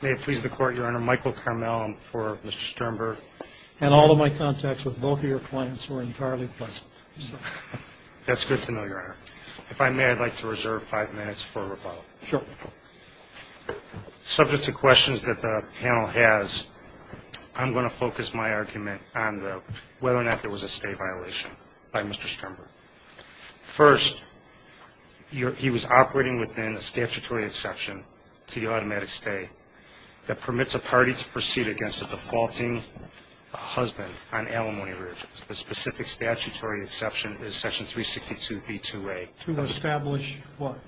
May it please the Court, Your Honor, Michael Carmel for Mr. Sternberg. And all of my contacts with both of your clients were entirely pleasant. That's good to know, Your Honor. If I may, I'd like to reserve five minutes for rebuttal. Sure. Subject to questions that the panel has, I'm going to focus my argument on whether or not there was a stay violation by Mr. Sternberg. First, he was operating within a statutory exception to the automatic stay that permits a party to proceed against a defaulting husband on alimony arrearges. The specific statutory exception is section 362b2a. To establish what?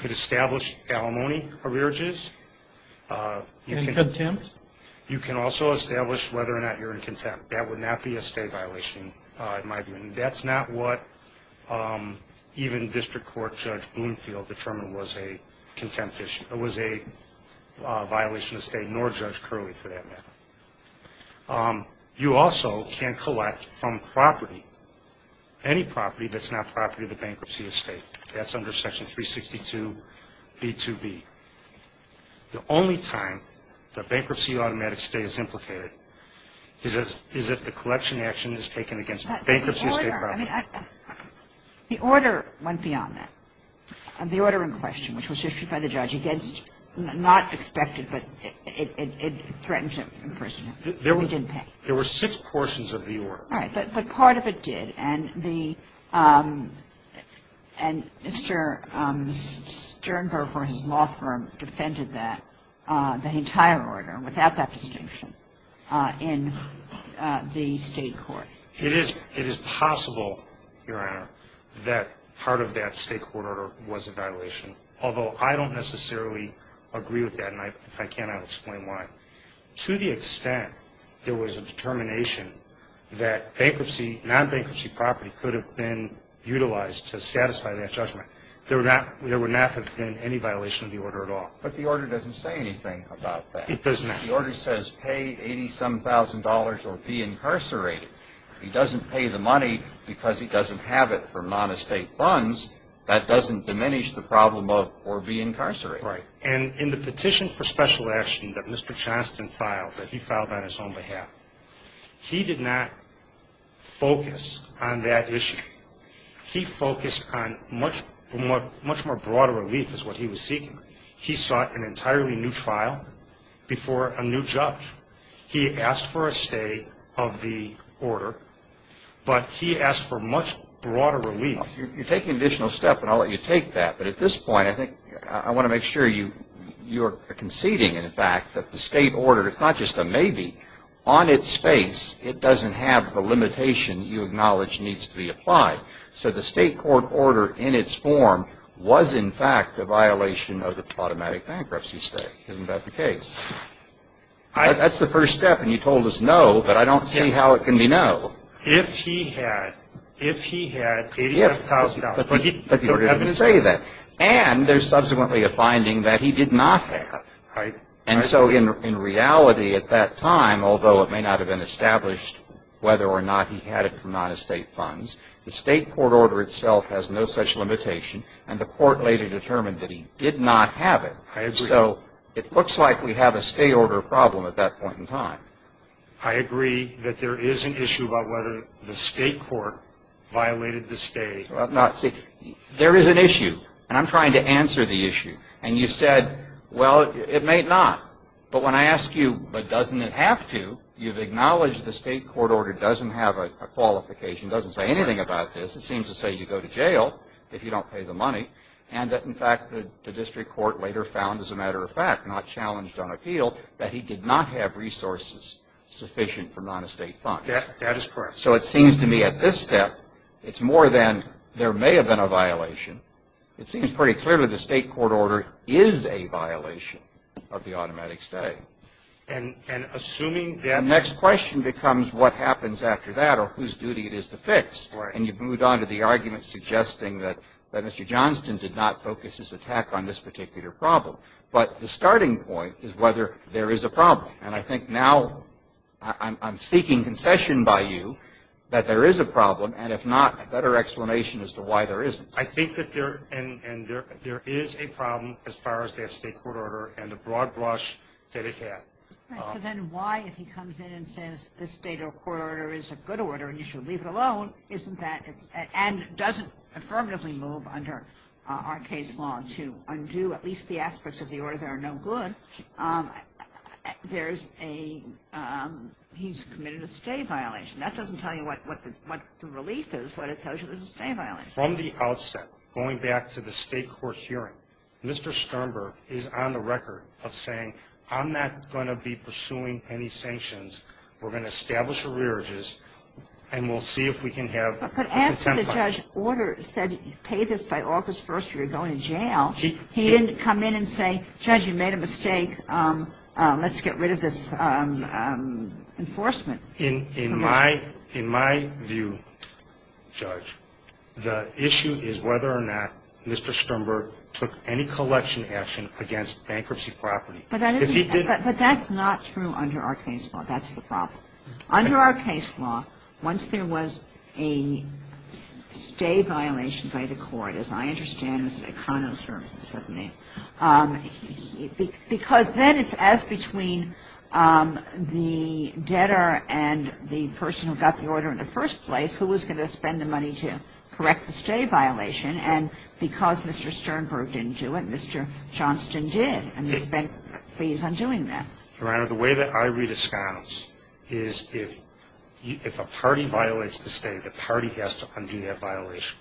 To establish alimony arrearges. In contempt? You can also establish whether or not you're in contempt. That would not be a stay violation in my view. That's not what even District Court Judge Bloomfield determined was a violation of stay, nor Judge Curley for that matter. You also can collect from property, any property that's not property of the bankruptcy of stay. That's under section 362b2b. The only time that bankruptcy automatic stay is implicated is if the collection action is taken against bankruptcy of stay property. The order went beyond that. The order in question, which was issued by the judge against, not expected, but it threatened to imprison him. He didn't pay. There were six portions of the order. All right. But part of it did, and Mr. Sternberg for his law firm defended that, the entire order, without that distinction, in the State court. It is possible, Your Honor, that part of that State court order was a violation, although I don't necessarily agree with that. And if I can, I'll explain why. To the extent there was a determination that bankruptcy, non-bankruptcy property could have been utilized to satisfy that judgment, there would not have been any violation of the order at all. But the order doesn't say anything about that. It does not. The order says pay $87,000 or be incarcerated. If he doesn't pay the money because he doesn't have it for non-estate funds, that doesn't diminish the problem of or be incarcerated. Right. And in the petition for special action that Mr. Johnston filed, that he filed on his own behalf, he did not focus on that issue. He focused on much more broader relief is what he was seeking. He sought an entirely new trial before a new judge. He asked for a stay of the order, but he asked for much broader relief. You're taking an additional step, and I'll let you take that. But at this point, I want to make sure you're conceding, in fact, that the State order is not just a maybe. On its face, it doesn't have the limitation you acknowledge needs to be applied. So the State court order in its form was, in fact, a violation of the automatic bankruptcy state. Isn't that the case? That's the first step, and you told us no, but I don't see how it can be no. If he had, if he had $87,000. But you didn't say that. And there's subsequently a finding that he did not have. Right. And so in reality at that time, although it may not have been established whether or not he had it from non-estate funds, the State court order itself has no such limitation, and the court later determined that he did not have it. I agree. I agree that there is an issue about whether the State court violated the State. See, there is an issue, and I'm trying to answer the issue. And you said, well, it may not. But when I ask you, but doesn't it have to, you've acknowledged the State court order doesn't have a qualification, doesn't say anything about this. It seems to say you go to jail if you don't pay the money, and that, in fact, the district court later found, as a matter of fact, not challenged on appeal, that he did not have resources sufficient for non-estate funds. That is correct. So it seems to me at this step, it's more than there may have been a violation. It seems pretty clearly the State court order is a violation of the automatic stay. And assuming that. The next question becomes what happens after that or whose duty it is to fix. Right. And you've moved on to the argument suggesting that Mr. Johnston did not focus his attack on this particular problem. But the starting point is whether there is a problem. And I think now I'm seeking concession by you that there is a problem, and if not, a better explanation as to why there isn't. I think that there is a problem as far as that State court order and the broad brush that it had. Right. So then why, if he comes in and says this State court order is a good order and you should leave it alone, isn't that, and doesn't affirmatively move under our case law to undo at least the aspects of the order that are no good, there's a, he's committed a stay violation. That doesn't tell you what the relief is, but it tells you there's a stay violation. And from the outset, going back to the State court hearing, Mr. Sternberg is on the record of saying, I'm not going to be pursuing any sanctions. We're going to establish a reerges, and we'll see if we can have a contempt clause. But after the judge ordered, said pay this by August 1st or you're going to jail, he didn't come in and say, judge, you made a mistake, let's get rid of this enforcement. In my view, judge, the issue is whether or not Mr. Sternberg took any collection action against bankruptcy property. But that's not true under our case law. That's the problem. Under our case law, once there was a stay violation by the court, as I understand, it's between the debtor and the person who got the order in the first place who was going to spend the money to correct the stay violation, and because Mr. Sternberg didn't do it, Mr. Johnston did, and he spent fees on doing that. Your Honor, the way that I read a sconce is if a party violates the stay, the party has to undo that violation.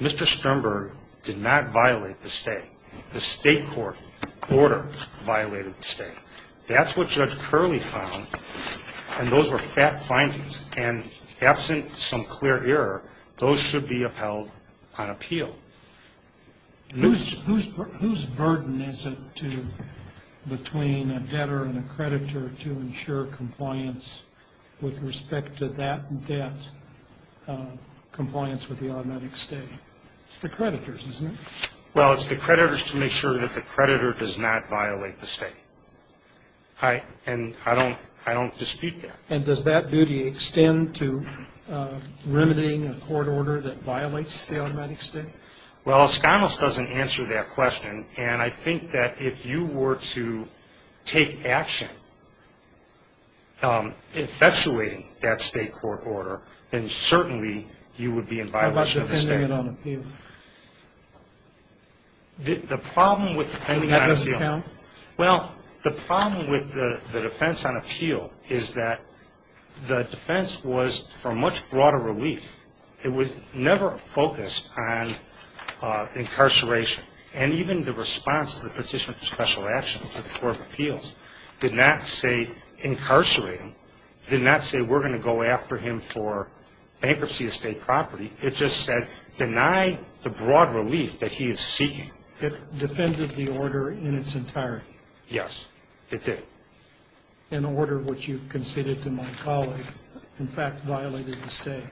Mr. Sternberg did not violate the stay. The state court order violated the stay. That's what Judge Curley found, and those were fat findings. And absent some clear error, those should be upheld on appeal. Who's burden is it to, between a debtor and a creditor, to ensure compliance with respect to that debt, compliance with the automatic stay? It's the creditors, isn't it? Well, it's the creditors to make sure that the creditor does not violate the stay, and I don't dispute that. And does that duty extend to remitting a court order that violates the automatic stay? Well, a sconce doesn't answer that question, and I think that if you were to take action infatuating that state court order, then certainly you would be in violation of the stay. How about defending it on appeal? The problem with defending on appeal? That doesn't count? Well, the problem with the defense on appeal is that the defense was for much broader relief. It was never focused on incarceration. And even the response to the Petition for Special Action to the Court of Appeals did not say incarcerate him, did not say we're going to go after him for bankruptcy of state property. It just said deny the broad relief that he is seeking. It defended the order in its entirety. Yes, it did. An order which you conceded to my colleague, in fact, violated the stay.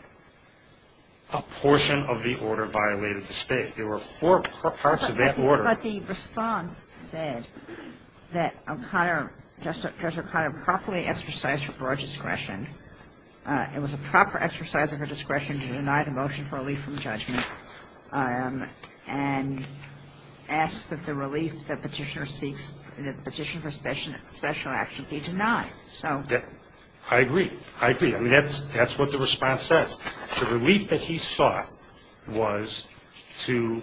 A portion of the order violated the stay. There were four parts of that order. But the response said that O'Connor, Justice O'Connor, properly exercised her broad discretion. It was a proper exercise of her discretion to deny the motion for relief from judgment. And asks that the relief that Petitioner seeks, the Petition for Special Action be denied. So. I agree. I agree. I mean, that's what the response says. The relief that he sought was to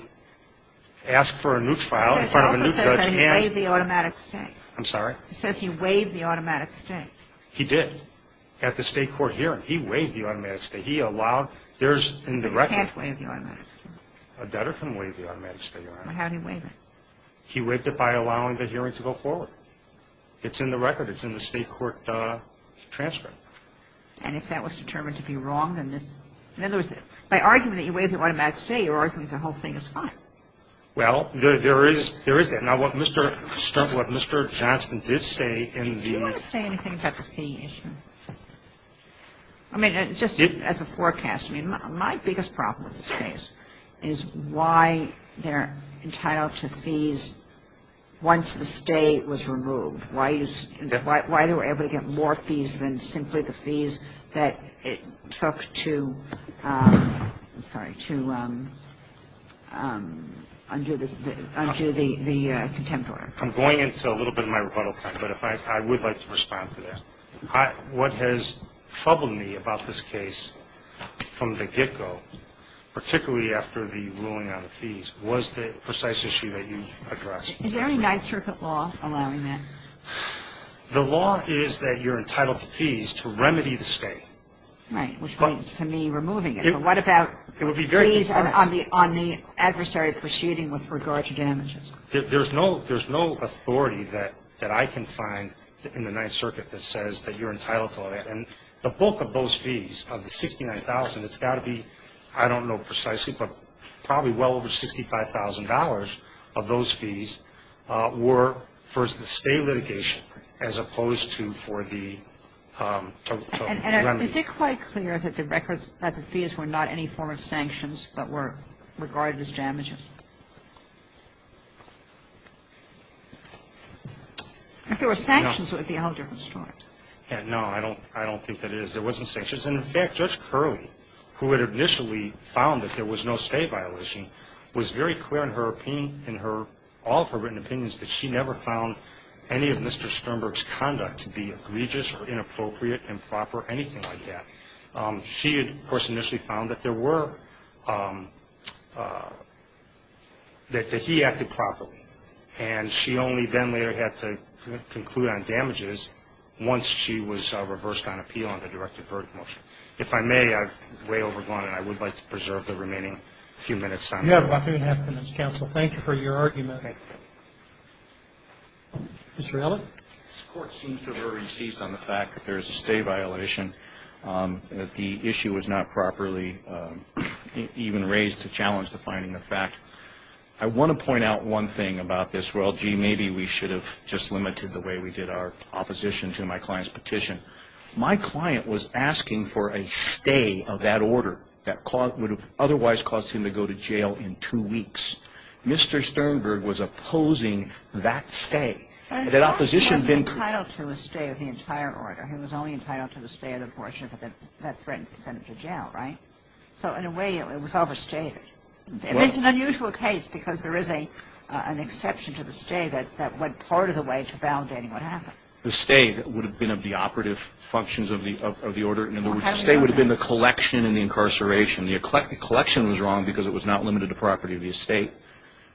ask for a new trial in front of a new judge and. It also says that he waived the automatic stay. I'm sorry? It says he waived the automatic stay. He did. At the state court hearing, he waived the automatic stay. He allowed. You can't waive the automatic stay. A debtor can waive the automatic stay, Your Honor. How did he waive it? He waived it by allowing the hearing to go forward. It's in the record. It's in the state court transcript. And if that was determined to be wrong, then this. In other words, by arguing that he waived the automatic stay, you're arguing the whole thing is fine. Well, there is that. Now, what Mr. Johnson did say in the... Did you want to say anything about the fee issue? I mean, just as a forecast. I mean, my biggest problem with this case is why they're entitled to fees once the stay was removed. Why they were able to get more fees than simply the fees that it took to undo the contempt order. I'm going into a little bit of my rebuttal time, but I would like to respond to that. What has troubled me about this case from the get-go, particularly after the ruling on the fees, was the precise issue that you've addressed. Is there any Ninth Circuit law allowing that? The law is that you're entitled to fees to remedy the stay. Right, which means, to me, removing it. But what about fees on the adversary proceeding with regard to damages? There's no authority that I can find in the Ninth Circuit that says that you're entitled to all that. And the bulk of those fees, of the $69,000, it's got to be, I don't know precisely, but probably well over $65,000 of those fees were for the stay litigation as opposed to for the... If there were sanctions, it would be a whole different story. No, I don't think that it is. There wasn't sanctions. And, in fact, Judge Curley, who had initially found that there was no stay violation, was very clear in her opinion, in all of her written opinions, that she never found any of Mr. Sternberg's conduct to be egregious or inappropriate, improper, anything like that. She, of course, initially found that there were, that he acted properly. And she only then later had to conclude on damages once she was reversed on appeal on the directive verdict motion. If I may, I've way overgone it. I would like to preserve the remaining few minutes on that. You have about three and a half minutes, counsel. Thank you for your argument. Okay. Mr. Ailey? This Court seems to have already ceased on the fact that there is a stay violation, that the issue was not properly even raised to challenge the finding of fact. I want to point out one thing about this. Well, gee, maybe we should have just limited the way we did our opposition to my client's petition. My client was asking for a stay of that order that would have otherwise caused him to go to jail in two weeks. Mr. Sternberg was opposing that stay. That opposition has been co- He was entitled to a stay of the entire order. He was only entitled to the stay of the portion that threatened to send him to jail, right? So in a way, it was overstated. It's an unusual case because there is an exception to the stay that went part of the way to validating what happened. The stay would have been of the operative functions of the order. In other words, the stay would have been the collection and the incarceration. The collection was wrong because it was not limited to property of the estate.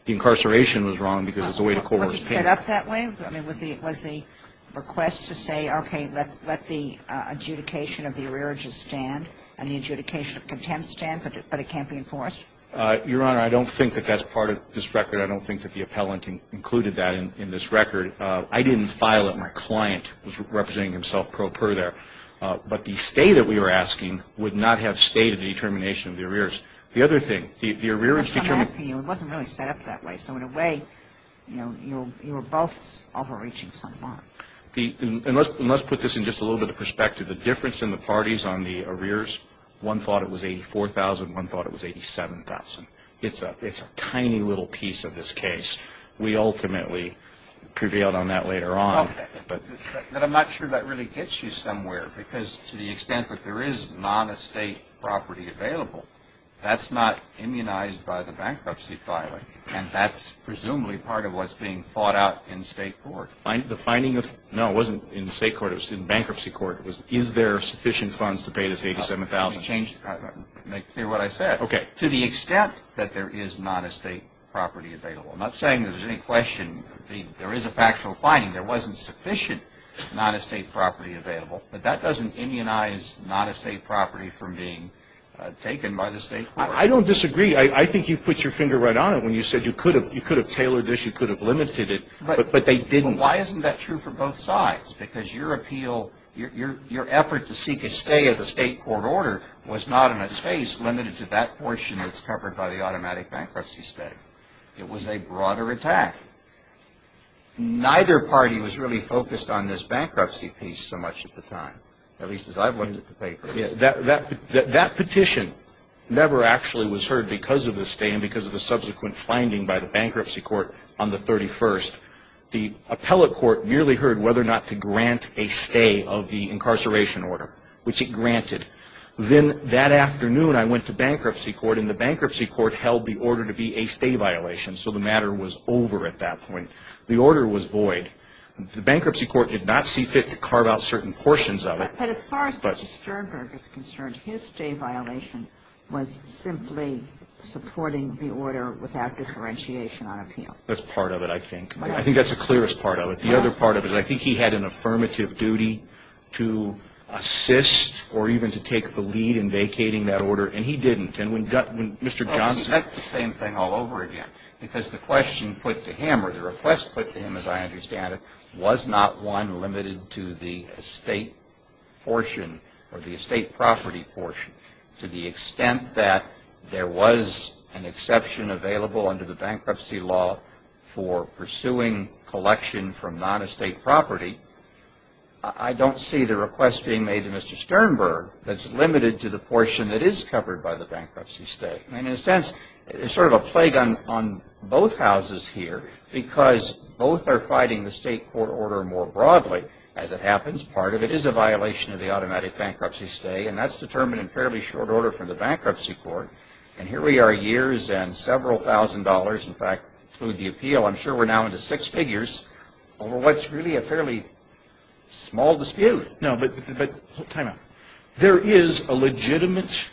The incarceration was wrong because it was a way to coerce payment. Was it set up that way? I mean, was the request to say, okay, let the adjudication of the arrearages stand and the adjudication of contempt stand, but it can't be enforced? Your Honor, I don't think that that's part of this record. I don't think that the appellant included that in this record. I didn't file it. My client was representing himself pro per there. But the stay that we were asking would not have stayed in the determination of the arrears. The other thing, the arrearage determined I'm asking you, it wasn't really set up that way. So in a way, you know, you were both overreaching somewhat. And let's put this in just a little bit of perspective. The difference in the parties on the arrears, one thought it was $84,000. One thought it was $87,000. It's a tiny little piece of this case. We ultimately prevailed on that later on. But I'm not sure that really gets you somewhere because to the extent that there is non-estate property available, that's not immunized by the bankruptcy filing. And that's presumably part of what's being fought out in state court. The finding of no, it wasn't in state court. It was in bankruptcy court. It was is there sufficient funds to pay this $87,000? Let me change that. Make clear what I said. Okay. To the extent that there is non-estate property available. I'm not saying that there's any question. There is a factual finding. There wasn't sufficient non-estate property available. But that doesn't immunize non-estate property from being taken by the state court. I don't disagree. I think you've put your finger right on it when you said you could have tailored this, you could have limited it, but they didn't. But why isn't that true for both sides? Because your appeal, your effort to seek a stay at the state court order was not, in its face, limited to that portion that's covered by the automatic bankruptcy stay. It was a broader attack. Neither party was really focused on this bankruptcy piece so much at the time, at least as I've looked at the paper. That petition never actually was heard because of the stay and because of the subsequent finding by the bankruptcy court on the 31st. The appellate court merely heard whether or not to grant a stay of the incarceration order, which it granted. Then that afternoon, I went to bankruptcy court, and the bankruptcy court held the order to be a stay violation, so the matter was over at that point. The order was void. The bankruptcy court did not see fit to carve out certain portions of it. But as far as Mr. Sternberg is concerned, his stay violation was simply supporting the order without differentiation on appeal. That's part of it, I think. I think that's the clearest part of it. The other part of it, I think he had an affirmative duty to assist or even to take the lead in vacating that order, and he didn't. And when Mr. Johnson ---- That's the same thing all over again, because the question put to him or the request put to him, as I understand it, was not one limited to the estate portion or the estate property portion. To the extent that there was an exception available under the bankruptcy law for pursuing collection from non-estate property, I don't see the request being made to Mr. Sternberg that's limited to the portion that is covered by the bankruptcy stay. And in a sense, it's sort of a plague on both houses here, because both are fighting the state court order more broadly. As it happens, part of it is a violation of the automatic bankruptcy stay, and that's determined in fairly short order from the bankruptcy court. And here we are years and several thousand dollars, in fact, include the appeal. I'm sure we're now into six figures over what's really a fairly small dispute. No, but time out. There is a legitimate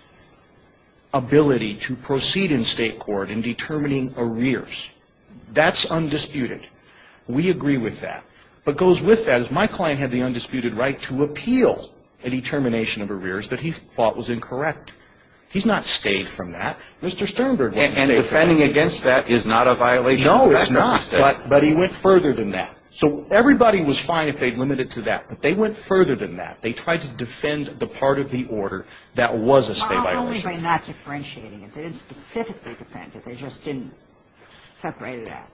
ability to proceed in state court in determining arrears. That's undisputed. We agree with that. What goes with that is my client had the undisputed right to appeal a determination of arrears that he thought was incorrect. He's not stayed from that. Mr. Sternberg wasn't stayed from that. And defending against that is not a violation of the bankruptcy stay. No, it's not. But he went further than that. So everybody was fine if they'd limit it to that. But they went further than that. They tried to defend the part of the order that was a stay violation. Only by not differentiating it. They didn't specifically defend it. They just didn't separate it out.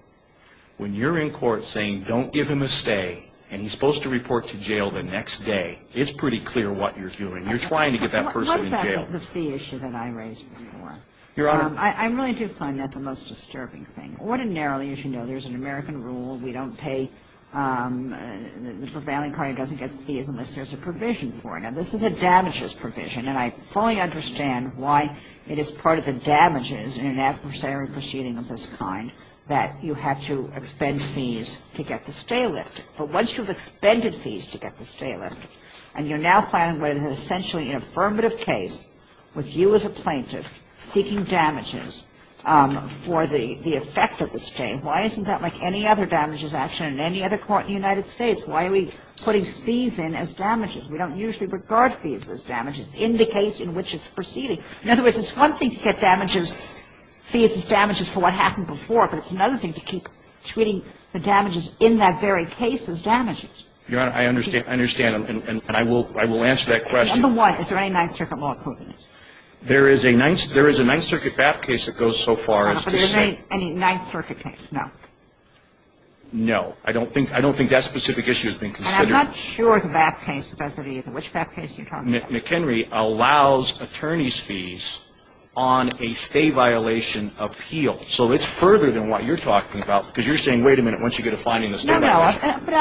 When you're in court saying, don't give him a stay, and he's supposed to report to jail the next day, it's pretty clear what you're doing. You're trying to get that person in jail. What about the fee issue that I raised before? Your Honor. I'm willing to find that the most disturbing thing. Ordinarily, as you know, there's an American rule. We don't pay the prevailing party doesn't get fees unless there's a provision for it. Now, this is a damages provision. And I fully understand why it is part of the damages in an adversary proceeding of this kind that you have to expend fees to get the stay lifted. But once you've expended fees to get the stay lifted, and you're now filing what is essentially an affirmative case with you as a plaintiff seeking damages for the effect of the stay, why isn't that like any other damages action in any other court in the United States? Why are we putting fees in as damages? We don't usually regard fees as damages in the case in which it's proceeding. In other words, it's one thing to get damages, fees as damages, for what happened before, but it's another thing to keep treating the damages in that very case as damages. Your Honor, I understand. I understand. And I will answer that question. Number one, is there any Ninth Circuit law equivalent? There is a Ninth Circuit BAP case that goes so far as to say – Any Ninth Circuit case? No. No. I don't think that specific issue has been considered. And I'm not sure the BAP case does it either. Which BAP case are you talking about? McHenry allows attorney's fees on a stay violation appeal. So it's further than what you're talking about, because you're saying, wait a minute, once you get to finding the stay – No, no. Okay. All right. But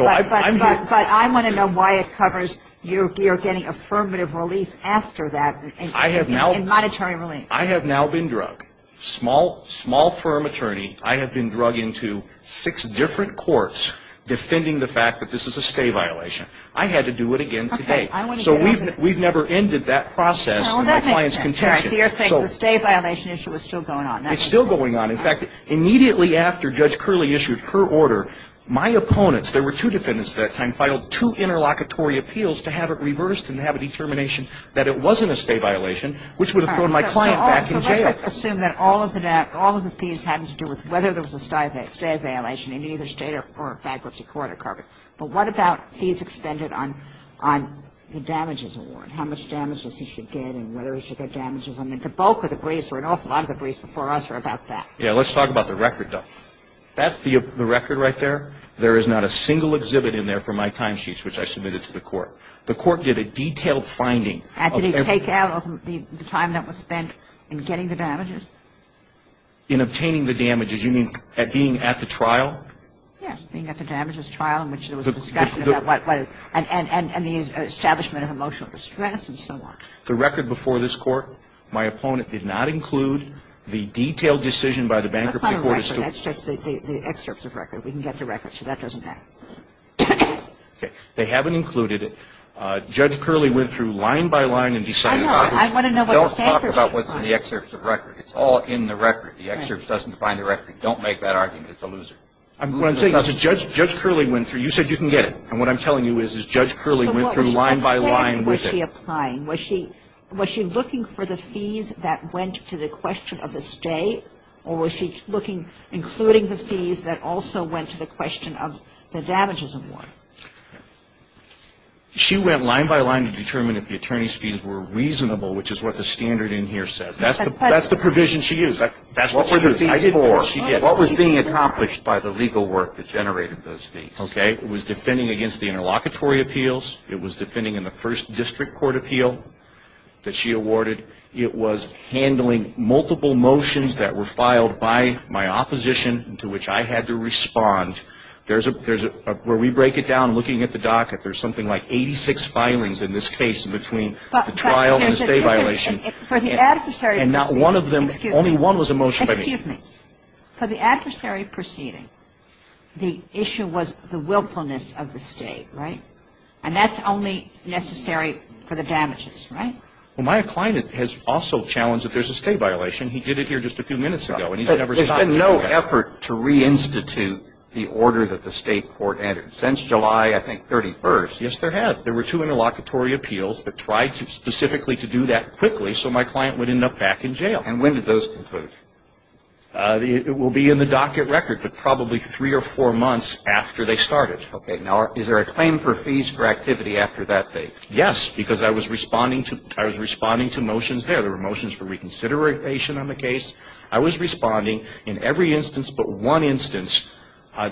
I want to know why it covers you're getting affirmative relief after that in monetary relief. I have now been drugged. Small firm attorney, I have been drugged into six different courts defending the fact that this is a stay violation. I had to do it again today. So we've never ended that process in my client's contention. Well, that makes sense. So you're saying the stay violation issue is still going on. It's still going on. In fact, immediately after Judge Curley issued her order, my opponents, there were two defendants at that time, filed two interlocutory appeals to have it reversed and to have a determination that it wasn't a stay violation, which would have thrown my client back in jail. All right. So let's assume that all of the fees had to do with whether there was a stay violation in either state or bankruptcy court or corporate. But what about fees expended on the damages award? How much damages he should get and whether he should get damages. I mean, the bulk of the briefs or an awful lot of the briefs before us are about that. Yeah. Let's talk about the record, though. That's the record right there. There is not a single exhibit in there for my timesheets, which I submitted to the court. The court did a detailed finding. Did they take out the time that was spent in getting the damages? In obtaining the damages. You mean being at the trial? Yes, being at the damages trial in which there was a discussion about what it was and the establishment of emotional distress and so on. The record before this Court, my opponent did not include the detailed decision by the bankruptcy court. That's not a record. That's just the excerpts of record. We can get the record. So that doesn't matter. Okay. They haven't included it. Judge Curley went through line by line and decided. I know. I want to know what the standard is. Don't talk about what's in the excerpts of record. It's all in the record. The excerpt doesn't define the record. Don't make that argument. It's a loser. What I'm saying is Judge Curley went through. You said you can get it. And what I'm telling you is Judge Curley went through line by line with it. When she was applying, was she looking for the fees that went to the question of the stay or was she looking, including the fees that also went to the question of the damages award? She went line by line to determine if the attorney's fees were reasonable, which is what the standard in here says. That's the provision she used. That's what she used. I didn't know what she did. What was being accomplished by the legal work that generated those fees? Okay. It was defending against the interlocutory appeals. It was defending in the first district court appeal that she awarded. It was handling multiple motions that were filed by my opposition to which I had to respond. There's a – where we break it down, looking at the docket, there's something like 86 filings in this case between the trial and the stay violation. And not one of them – only one was a motion by me. Excuse me. For the adversary proceeding, the issue was the willfulness of the stay, right? And that's only necessary for the damages, right? Well, my client has also challenged that there's a stay violation. He did it here just a few minutes ago, and he's never stopped. There's been no effort to reinstitute the order that the state court entered since July, I think, 31st. Yes, there has. There were two interlocutory appeals that tried specifically to do that quickly so my client would end up back in jail. And when did those conclude? It will be in the docket record, but probably three or four months after they started. Okay. Now, is there a claim for fees for activity after that date? Yes, because I was responding to – I was responding to motions there. There were motions for reconsideration on the case. I was responding in every instance but one instance.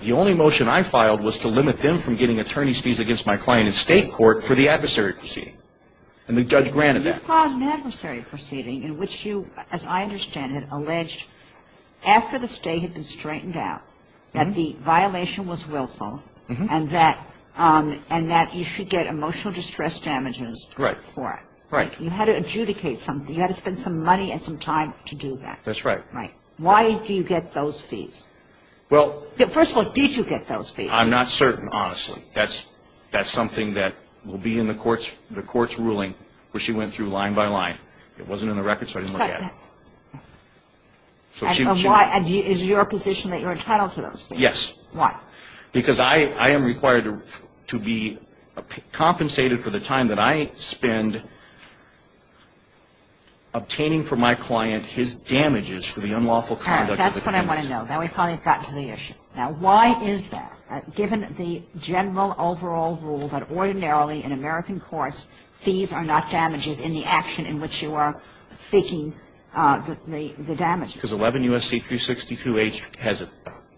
The only motion I filed was to limit them from getting attorney's fees against my client in state court for the adversary proceeding. And the judge granted that. You filed an adversary proceeding in which you, as I understand it, after the state had been straightened out, that the violation was willful, and that you should get emotional distress damages for it. Right. You had to adjudicate something. You had to spend some money and some time to do that. That's right. Right. Why do you get those fees? Well – First of all, did you get those fees? I'm not certain, honestly. That's something that will be in the court's ruling where she went through line by line. It wasn't in the record so I didn't look at it. And why – is it your position that you're entitled to those fees? Yes. Why? Because I am required to be compensated for the time that I spend obtaining for my client his damages for the unlawful conduct of the client. All right. That's what I want to know. Now we've probably gotten to the issue. Now why is that? Given the general overall rule that ordinarily in American courts fees are not damages in the action in which you are seeking the damages. Because 11 U.S.C. 362H has a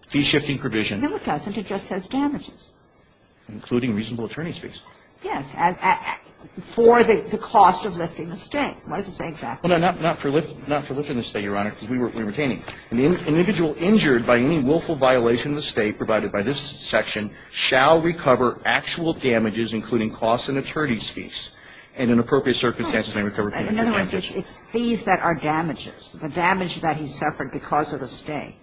fee-shifting provision. No, it doesn't. It just says damages. Including reasonable attorney's fees. Yes. For the cost of lifting the state. What does it say exactly? Well, no, not for lifting the state, Your Honor, because we were obtaining. An individual injured by any willful violation of the state provided by this section shall recover actual damages including costs and attorney's fees. And in appropriate circumstances may recover damages. In other words, it's fees that are damages. The damage that he suffered because of the state.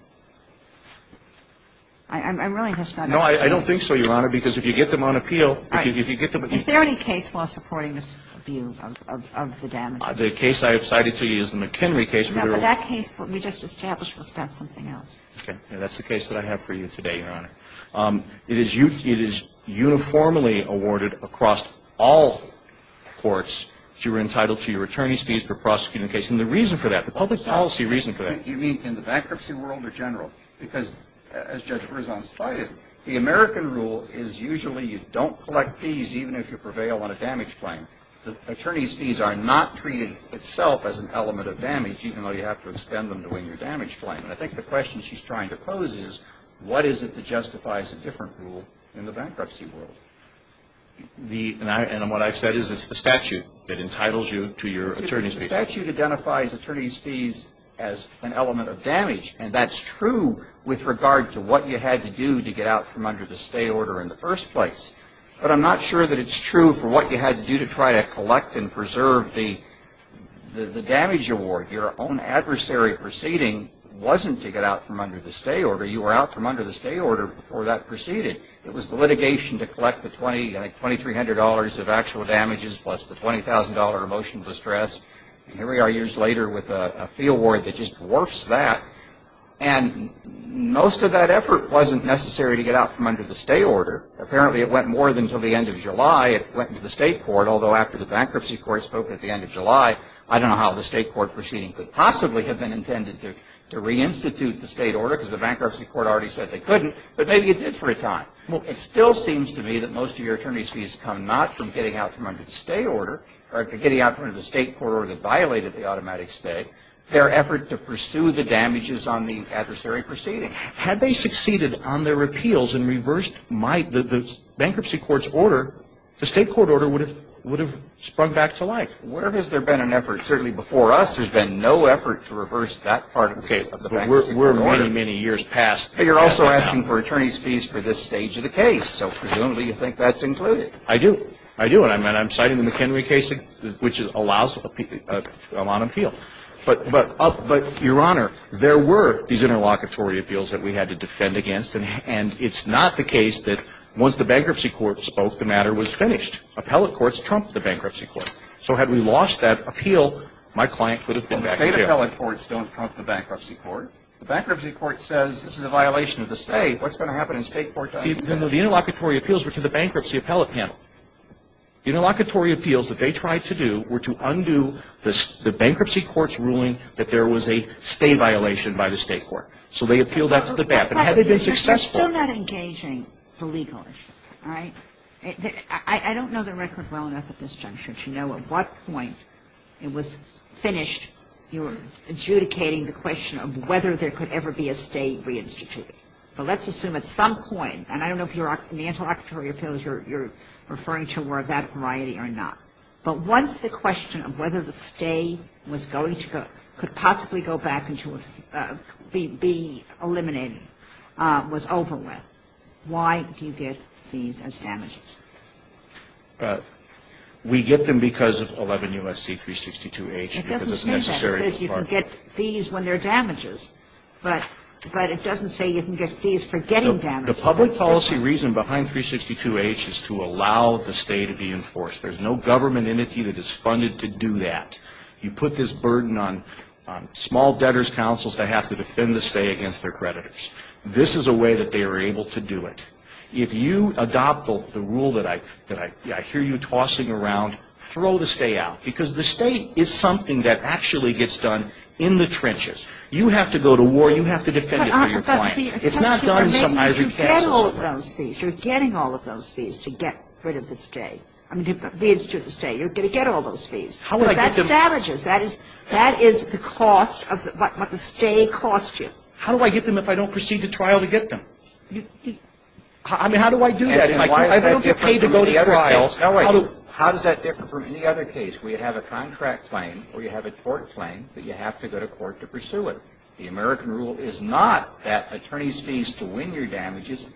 I'm really just not understanding. No, I don't think so, Your Honor, because if you get them on appeal, if you get them on appeal. All right. Is there any case law supporting this view of the damages? The case I have cited to you is the McHenry case. No, but that case we just established was about something else. Okay. That's the case that I have for you today, Your Honor. It is uniformly awarded across all courts that you are entitled to your attorney's fees for prosecuting a case. And the reason for that, the public policy reason for that. You mean in the bankruptcy world in general? Because as Judge Berzon cited, the American rule is usually you don't collect fees even if you prevail on a damage claim. The attorney's fees are not treated itself as an element of damage even though you have to expend them to win your damage claim. And I think the question she's trying to pose is what is it that justifies a different rule in the bankruptcy world? And what I've said is it's the statute that entitles you to your attorney's fees. The statute identifies attorney's fees as an element of damage. And that's true with regard to what you had to do to get out from under the stay order in the first place. But I'm not sure that it's true for what you had to do to try to collect and preserve the damage award. Your own adversary proceeding wasn't to get out from under the stay order. You were out from under the stay order before that proceeded. It was the litigation to collect the $2,300 of actual damages plus the $20,000 of emotional distress. And here we are years later with a fee award that just dwarfs that. And most of that effort wasn't necessary to get out from under the stay order. Apparently, it went more than until the end of July. It went to the state court, although after the bankruptcy court spoke at the end of July, I don't know how the state court proceeding could possibly have been intended to reinstitute the state order because the bankruptcy court already said they couldn't. But maybe it did for a time. Well, it still seems to me that most of your attorney's fees come not from getting out from under the stay order or getting out from under the state court order that violated the automatic stay, their effort to pursue the damages on the adversary proceeding. Had they succeeded on their appeals and reversed the bankruptcy court's order, the state court order would have sprung back to life. Where has there been an effort? Certainly before us, there's been no effort to reverse that part of the bankruptcy court order. Okay. But we're many, many years past. But you're also asking for attorney's fees for this stage of the case. So presumably you think that's included. I do. I do. And I'm citing the McHenry case, which allows a lot of appeals. But, Your Honor, there were these interlocutory appeals that we had to defend against. And it's not the case that once the bankruptcy court spoke, the matter was finished. Appellate courts trumped the bankruptcy court. So had we lost that appeal, my client could have been back in jail. Well, the state appellate courts don't trump the bankruptcy court. The bankruptcy court says this is a violation of the state. What's going to happen in state court to undo that? The interlocutory appeals were to the bankruptcy appellate panel. The interlocutory appeals that they tried to do were to undo the bankruptcy court's ruling that there was a state violation by the state court. So they appealed that to the back. But had they been successful? But you're still not engaging the legal issue. All right? I don't know the record well enough at this juncture to know at what point it was finished, you were adjudicating the question of whether there could ever be a state reinstituting. But let's assume at some point, and I don't know if the interlocutory appeals you're referring to were of that variety or not. But once the question of whether the state was going to go, could possibly go back into being eliminated was over with, why do you get fees as damages? We get them because of 11 U.S.C. 362H. It doesn't say that. It says you can get fees when they're damages. But it doesn't say you can get fees for getting damages. The public policy reason behind 362H is to allow the stay to be enforced. There's no government entity that is funded to do that. You put this burden on small debtors' councils to have to defend the stay against their creditors. This is a way that they were able to do it. If you adopt the rule that I hear you tossing around, throw the stay out. Because the stay is something that actually gets done in the trenches. You have to go to war. You have to defend it for your client. It's not done in some ivory castle. You're getting all of those fees to get rid of the stay. I mean, to institute the stay. You're going to get all those fees. Because that's damages. That is the cost of what the stay costs you. How do I get them if I don't proceed to trial to get them? I mean, how do I do that? I don't get paid to go to trial. How does that differ from any other case where you have a contract claim or you have a tort The American rule is not that attorneys' fees to win your damages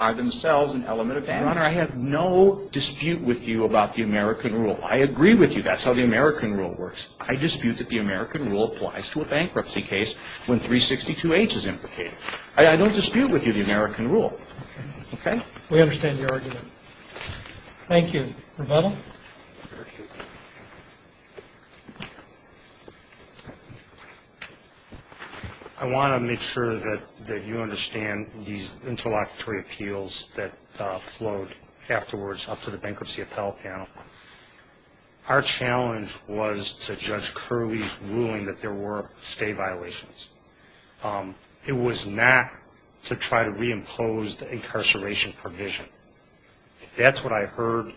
are themselves an element of damages. Your Honor, I have no dispute with you about the American rule. I agree with you. That's how the American rule works. I dispute that the American rule applies to a bankruptcy case when 362H is implicated. I don't dispute with you the American rule. Okay? We understand your argument. Thank you. Revetal? Thank you. I want to make sure that you understand these interlocutory appeals that flowed afterwards up to the bankruptcy appellate panel. Our challenge was to Judge Curley's ruling that there were stay violations. It was not to try to reimpose the incarceration provision. If that's what I heard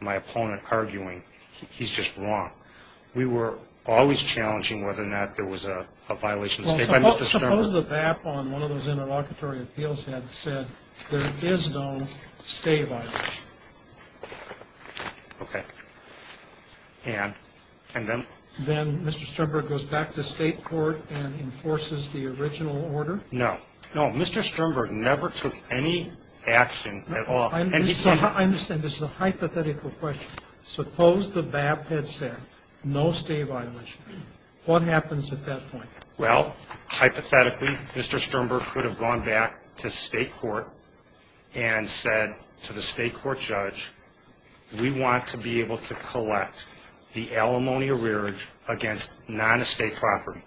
my opponent arguing, he's just wrong. We were always challenging whether or not there was a violation of stay by Mr. Sternberg. Well, suppose the BAP on one of those interlocutory appeals had said there is no stay violation. Okay. And then? Then Mr. Sternberg goes back to state court and enforces the original order? No. No, Mr. Sternberg never took any action at all. I understand. This is a hypothetical question. Suppose the BAP had said no stay violation. What happens at that point? Well, hypothetically, Mr. Sternberg could have gone back to state court and said to the state court judge, we want to be able to collect the alimony arrearage against non-estate property.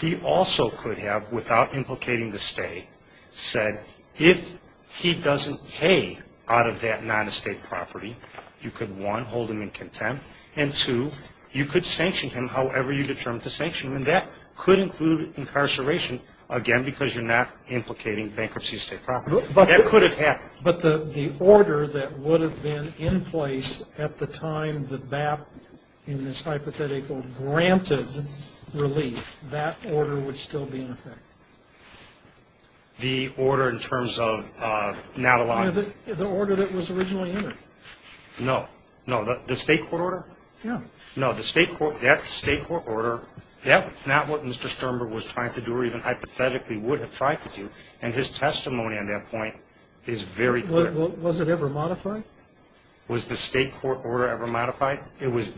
He also could have, without implicating the stay, said if he doesn't pay out of that non-estate property, you could, one, hold him in contempt, and, two, you could sanction him however you determined to sanction him. And that could include incarceration, again, because you're not implicating bankruptcy of state property. That could have happened. But the order that would have been in place at the time the BAP in this hypothetical granted relief, that order would still be in effect? The order in terms of not allowing it? The order that was originally in it. No. No, the state court order? No. No, the state court order, that's not what Mr. Sternberg was trying to do or even hypothetically would have tried to do. And his testimony on that point is very clear. Was it ever modified? Was the state court order ever modified? It was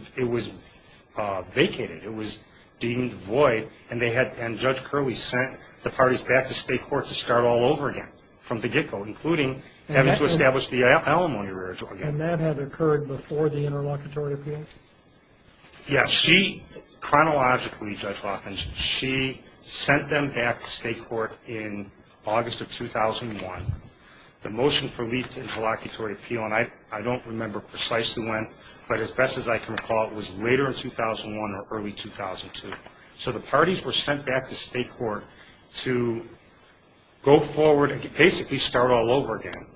vacated. It was deemed void. And Judge Curley sent the parties back to state court to start all over again from the get-go, including having to establish the alimony arrearage again. And that had occurred before the interlocutory appeal? Yeah, she chronologically, Judge Rothman, she sent them back to state court in August of 2001. The motion for leave to interlocutory appeal, and I don't remember precisely when, but as best as I can recall it was later in 2001 or early 2002. So the parties were sent back to state court to go forward and basically start all over again,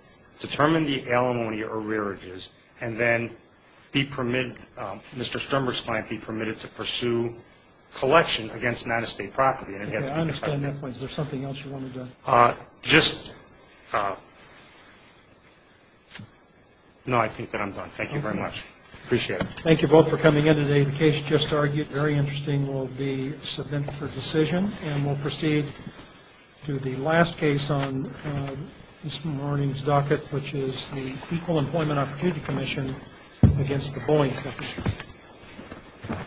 determine the alimony arrearages, and then be permitted, Mr. Sternberg's client be permitted to pursue collection against non-estate property. I understand that point. Is there something else you wanted to? Just, no, I think that I'm done. Thank you very much. Appreciate it. Thank you both for coming in today. The case just argued, very interesting, will be submitted for decision. And we'll proceed to the last case on this morning's docket, which is the Equal Employment Opportunity Commission against the Boeing Company.